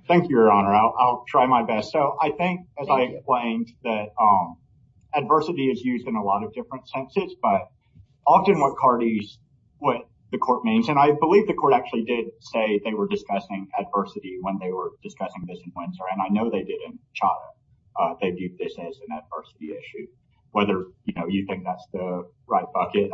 Thank you, your honor. I'll try my best. I think, as I explained, that adversity is used in a lot of different senses, but often what the court means, and I believe the court actually did say they were discussing adversity when they were discussing this in Windsor, and I know they didn't chop it. They viewed this as an adversity issue. Whether you think that's the right bucket,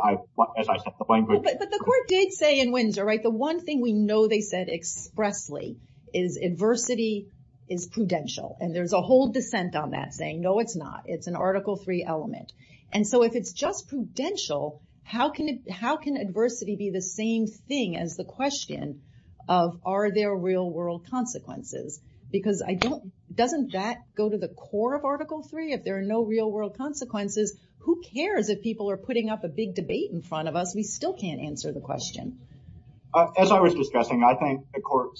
as I said, the language- But the court did say in Windsor, the one thing we know they said expressly is adversity is prudential, and there's a whole dissent on that saying, no, it's not. It's an article three element, and so if it's just prudential, how can adversity be the same thing as the question of are there real world consequences? Because doesn't that go to the core of article three? If there are no real world consequences, who cares if people are putting up a big debate in front of us? We still can't answer the question. As I was discussing, I think the court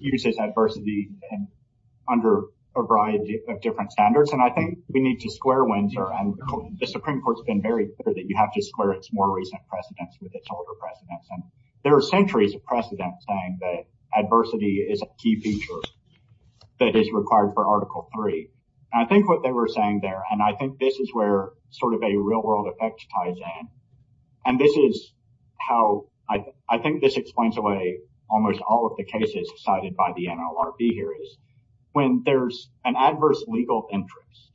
uses adversity under a variety of different standards, and I think we need to square Windsor, and the Supreme Court's been very clear that you have to square its more recent precedents with its older precedents, and there are centuries of precedent saying that adversity is a key feature that is required for article three, and I think what they were saying there, and I think this is where a real world effect ties in, and this is how... I think this explains away almost all of the cases cited by the NLRB here is when there's an adverse legal interest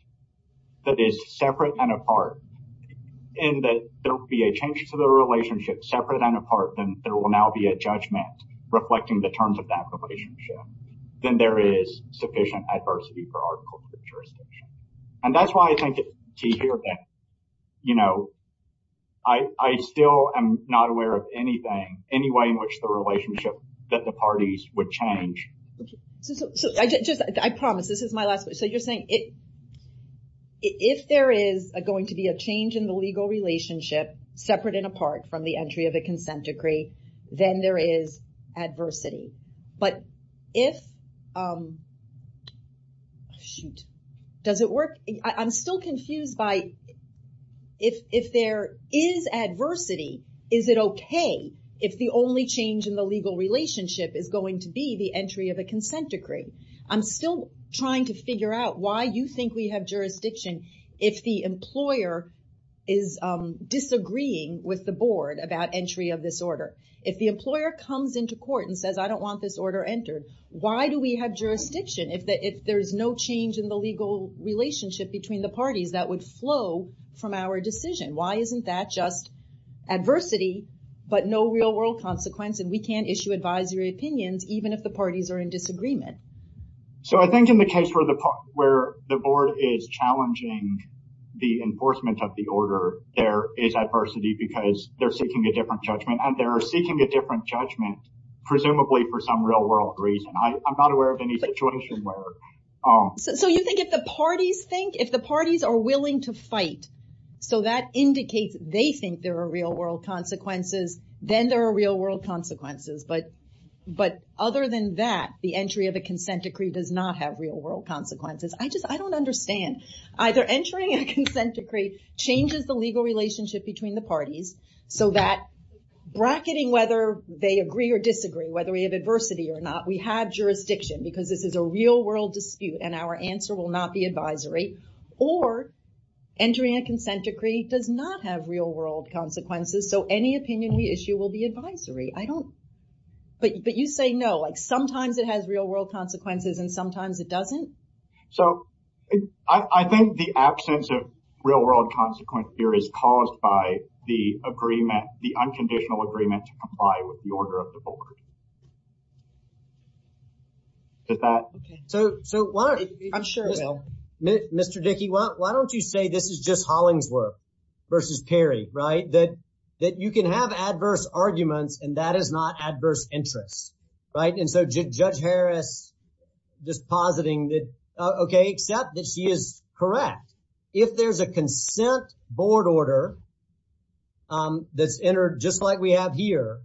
that is separate and apart, and that there'll be a change to the relationship separate and apart, then there will now be a judgment reflecting the terms of that relationship, then there is sufficient adversity for article three jurisdiction, and that's why I think it's key here that I still am not aware of anything, any way in which the relationship that the parties would change. So, I promise, this is my last question. So, you're saying if there is going to be a change in the legal relationship separate and apart from the entry of a consent decree, then there is adversity, but if... Shoot. Does it work? I'm still confused by... If there is adversity, is it okay if the only change in the legal relationship is going to be the entry of a consent decree? I'm still trying to figure out why you think we have jurisdiction if the employer is disagreeing with the board about entry of this order. If the employer comes into court and says, I don't want this order entered, why do we have jurisdiction if there's no change in the relationship between the parties that would flow from our decision? Why isn't that just adversity but no real world consequence and we can't issue advisory opinions even if the parties are in disagreement? So, I think in the case where the board is challenging the enforcement of the order, there is adversity because they're seeking a different judgment and they're seeking a different judgment, presumably for some real world reason. I'm not aware of any situation where... So, you think if the parties think... If the parties are willing to fight, so that indicates they think there are real world consequences, then there are real world consequences. But other than that, the entry of a consent decree does not have real world consequences. I don't understand. Either entering a consent decree changes the legal relationship between the parties so that bracketing whether they agree or disagree, whether we have adversity or not, we have jurisdiction because this is a real world dispute and our answer will not be advisory or entering a consent decree does not have real world consequences. So, any opinion we issue will be advisory. I don't... But you say no, like sometimes it has real world consequences and sometimes it doesn't. So, I think the absence of real world consequence here is caused by the unconditional agreement to comply with the order of the board. Did that... Okay. So, why don't... I'm sure... Mr. Dickey, why don't you say this is just Hollingsworth versus Perry, right? That you can have adverse arguments and that is not adverse interests, right? And so, Judge Harris just positing that, okay, except that she is correct. If there's a consent board order that's entered just like we have here,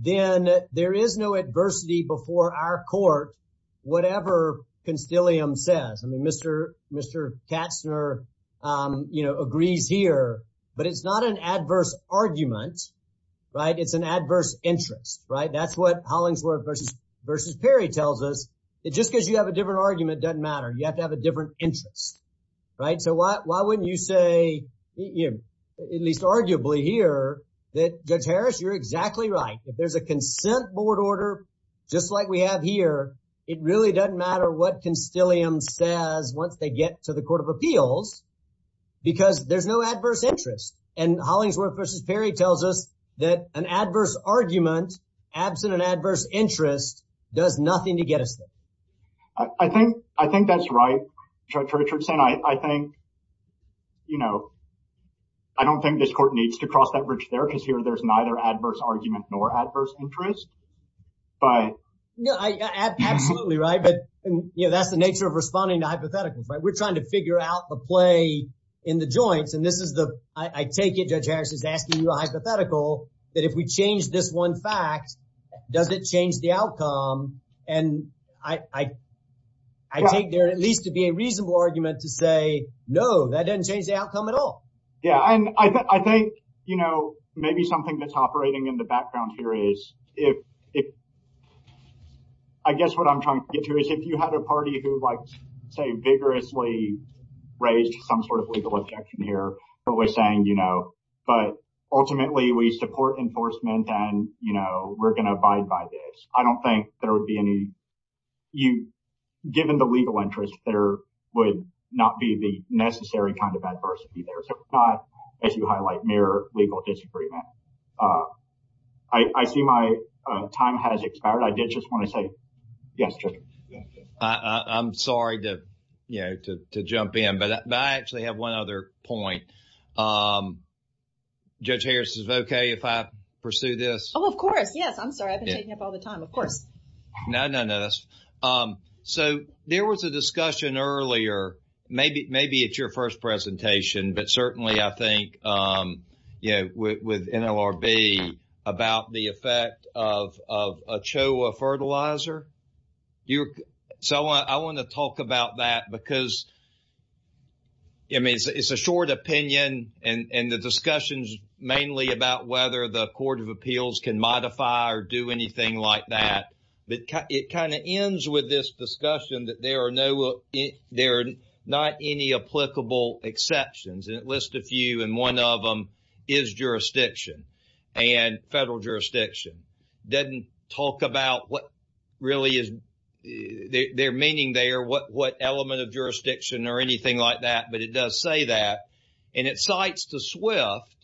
then there is no adversity before our court, whatever Constellium says. I mean, Mr. Katzner agrees here, but it's not an adverse argument, right? It's an adverse interest, right? That's what Hollingsworth versus Perry tells us that just because you have a different argument doesn't matter. You have to have a different interest, right? So, why wouldn't you say, at least arguably here, that Judge Harris, you're exactly right. If there's a consent board order just like we have here, it really doesn't matter what Constellium says once they get to the court of appeals because there's no adverse interest. And Hollingsworth versus Perry tells us that an I think that's right, Judge Richardson. I think, you know, I don't think this court needs to cross that bridge there because here there's neither adverse argument nor adverse interest, but... No, absolutely, right? But, you know, that's the nature of responding to hypotheticals, right? We're trying to figure out the play in the joints and this is the, I take it Judge Harris is asking you a hypothetical that if we change this one fact, does it change the outcome? And I take there at least to be a reasonable argument to say, no, that doesn't change the outcome at all. Yeah, and I think, you know, maybe something that's operating in the background here is if I guess what I'm trying to get to is if you had a party who like say vigorously raised some sort of legal objection here but was saying, you know, but ultimately we support enforcement and, you know, we're going to abide by this. I don't think there would be any... There would not be the necessary kind of adversity there, so it's not, as you highlight, mere legal disagreement. I see my time has expired. I did just want to say, yes, Judge. I'm sorry to, you know, to jump in, but I actually have one other point. Judge Harris, is it okay if I pursue this? Oh, of course. Yes, I'm sorry. I've been discussing earlier, maybe it's your first presentation, but certainly I think, you know, with NLRB about the effect of a CHOA fertilizer. So, I want to talk about that because, I mean, it's a short opinion and the discussion's mainly about whether the Court of Appeals can there are not any applicable exceptions, and it lists a few, and one of them is jurisdiction, and federal jurisdiction. Doesn't talk about what really is their meaning there, what element of jurisdiction or anything like that, but it does say that, and it cites the SWIFT,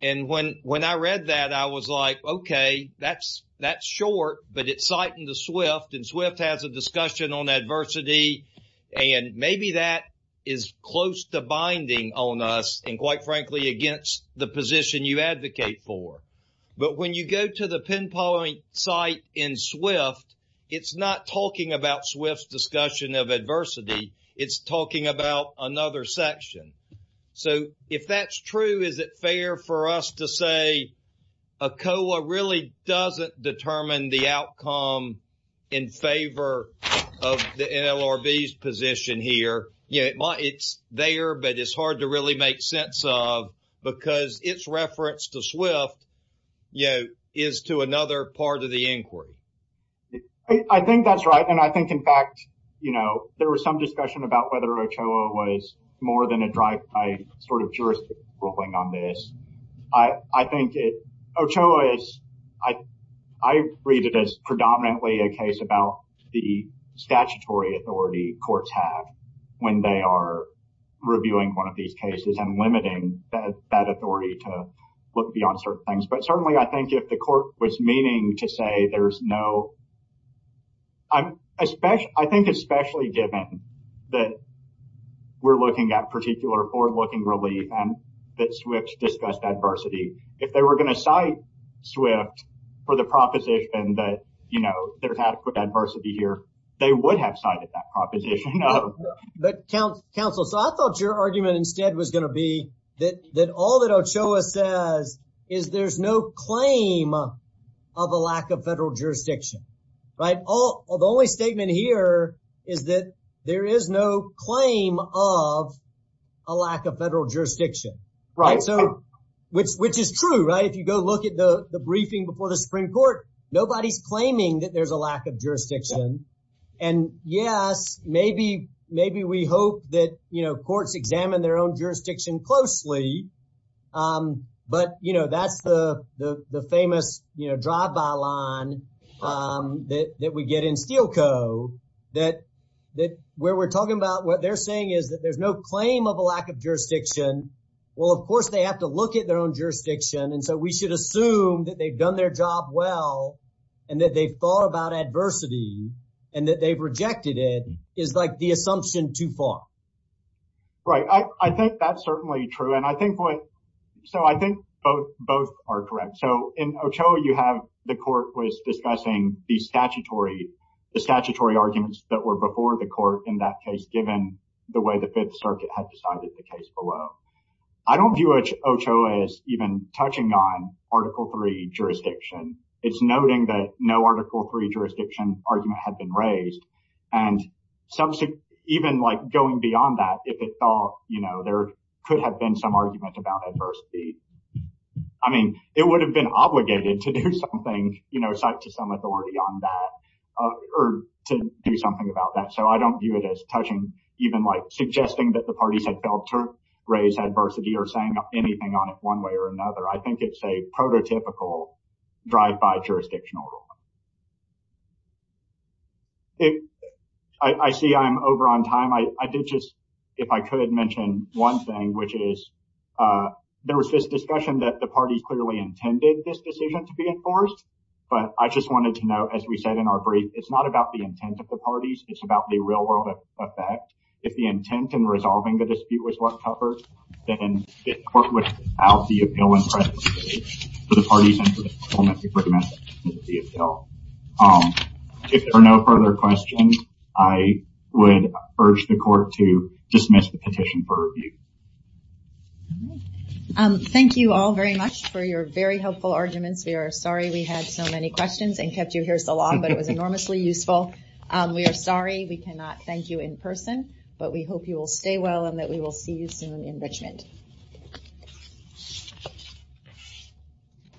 and when I read that, I was like, okay, that's short, but it's citing the SWIFT, and SWIFT has a discussion on adversity, and maybe that is close to binding on us, and quite frankly against the position you advocate for, but when you go to the pinpoint site in SWIFT, it's not talking about SWIFT's discussion of adversity, it's talking about another section. So, if that's true, is it fair for us to say a CHOA really doesn't determine the outcome in favor of the NLRB's position here? It's there, but it's hard to really make sense of, because its reference to SWIFT is to another part of the inquiry. I think that's right, and I think, in fact, there was some discussion about whether OCHOA was more than a drive-by sort of jurisdiction ruling on this. I think OCHOA is, I read it as predominantly a case about the statutory authority courts have when they are reviewing one of these cases and limiting that authority to look beyond certain things, but certainly I think if the court was at particular forward-looking relief and that SWIFT discussed adversity, if they were going to cite SWIFT for the proposition that there's adequate adversity here, they would have cited that proposition. But counsel, so I thought your argument instead was going to be that all that OCHOA says is there's no claim of a lack of federal jurisdiction, right? The only statement here is that there is no claim of a lack of federal jurisdiction, which is true, right? If you go look at the briefing before the Supreme Court, nobody's claiming that there's a lack of jurisdiction, and yes, maybe we hope that courts examine their own jurisdiction closely, but, you know, that's the famous, you know, drive-by line that we get in Steel Co. that where we're talking about what they're saying is that there's no claim of a lack of jurisdiction. Well, of course, they have to look at their own jurisdiction, and so we should assume that they've done their job well and that they've thought about adversity and that they've rejected is like the assumption too far. Right, I think that's certainly true, and I think what, so I think both are correct. So in OCHOA, you have the court was discussing the statutory arguments that were before the court in that case, given the way the Fifth Circuit had decided the case below. I don't view OCHOA as even touching on Article III jurisdiction. It's noting that Article III jurisdiction argument had been raised, and even like going beyond that, if it thought, you know, there could have been some argument about adversity, I mean, it would have been obligated to do something, you know, cite to some authority on that or to do something about that. So I don't view it as touching, even like suggesting that the parties had failed to raise adversity or saying anything on it one way or another. I think it's a prototypical drive-by jurisdictional rule. I see I'm over on time. I did just, if I could mention one thing, which is there was this discussion that the party clearly intended this decision to be enforced, but I just wanted to note, as we said in our brief, it's not about the intent of the parties, it's about the real-world effect. If the intent in resolving the dispute was well covered, then the court would dismiss the appeal and present the case to the parties. If there are no further questions, I would urge the court to dismiss the petition for review. Thank you all very much for your very helpful arguments. We are sorry we had so many questions and kept you here so long, but it was enormously useful. We are sorry we cannot thank you in person, but we hope you will stay well and that we will see you soon in Richmond.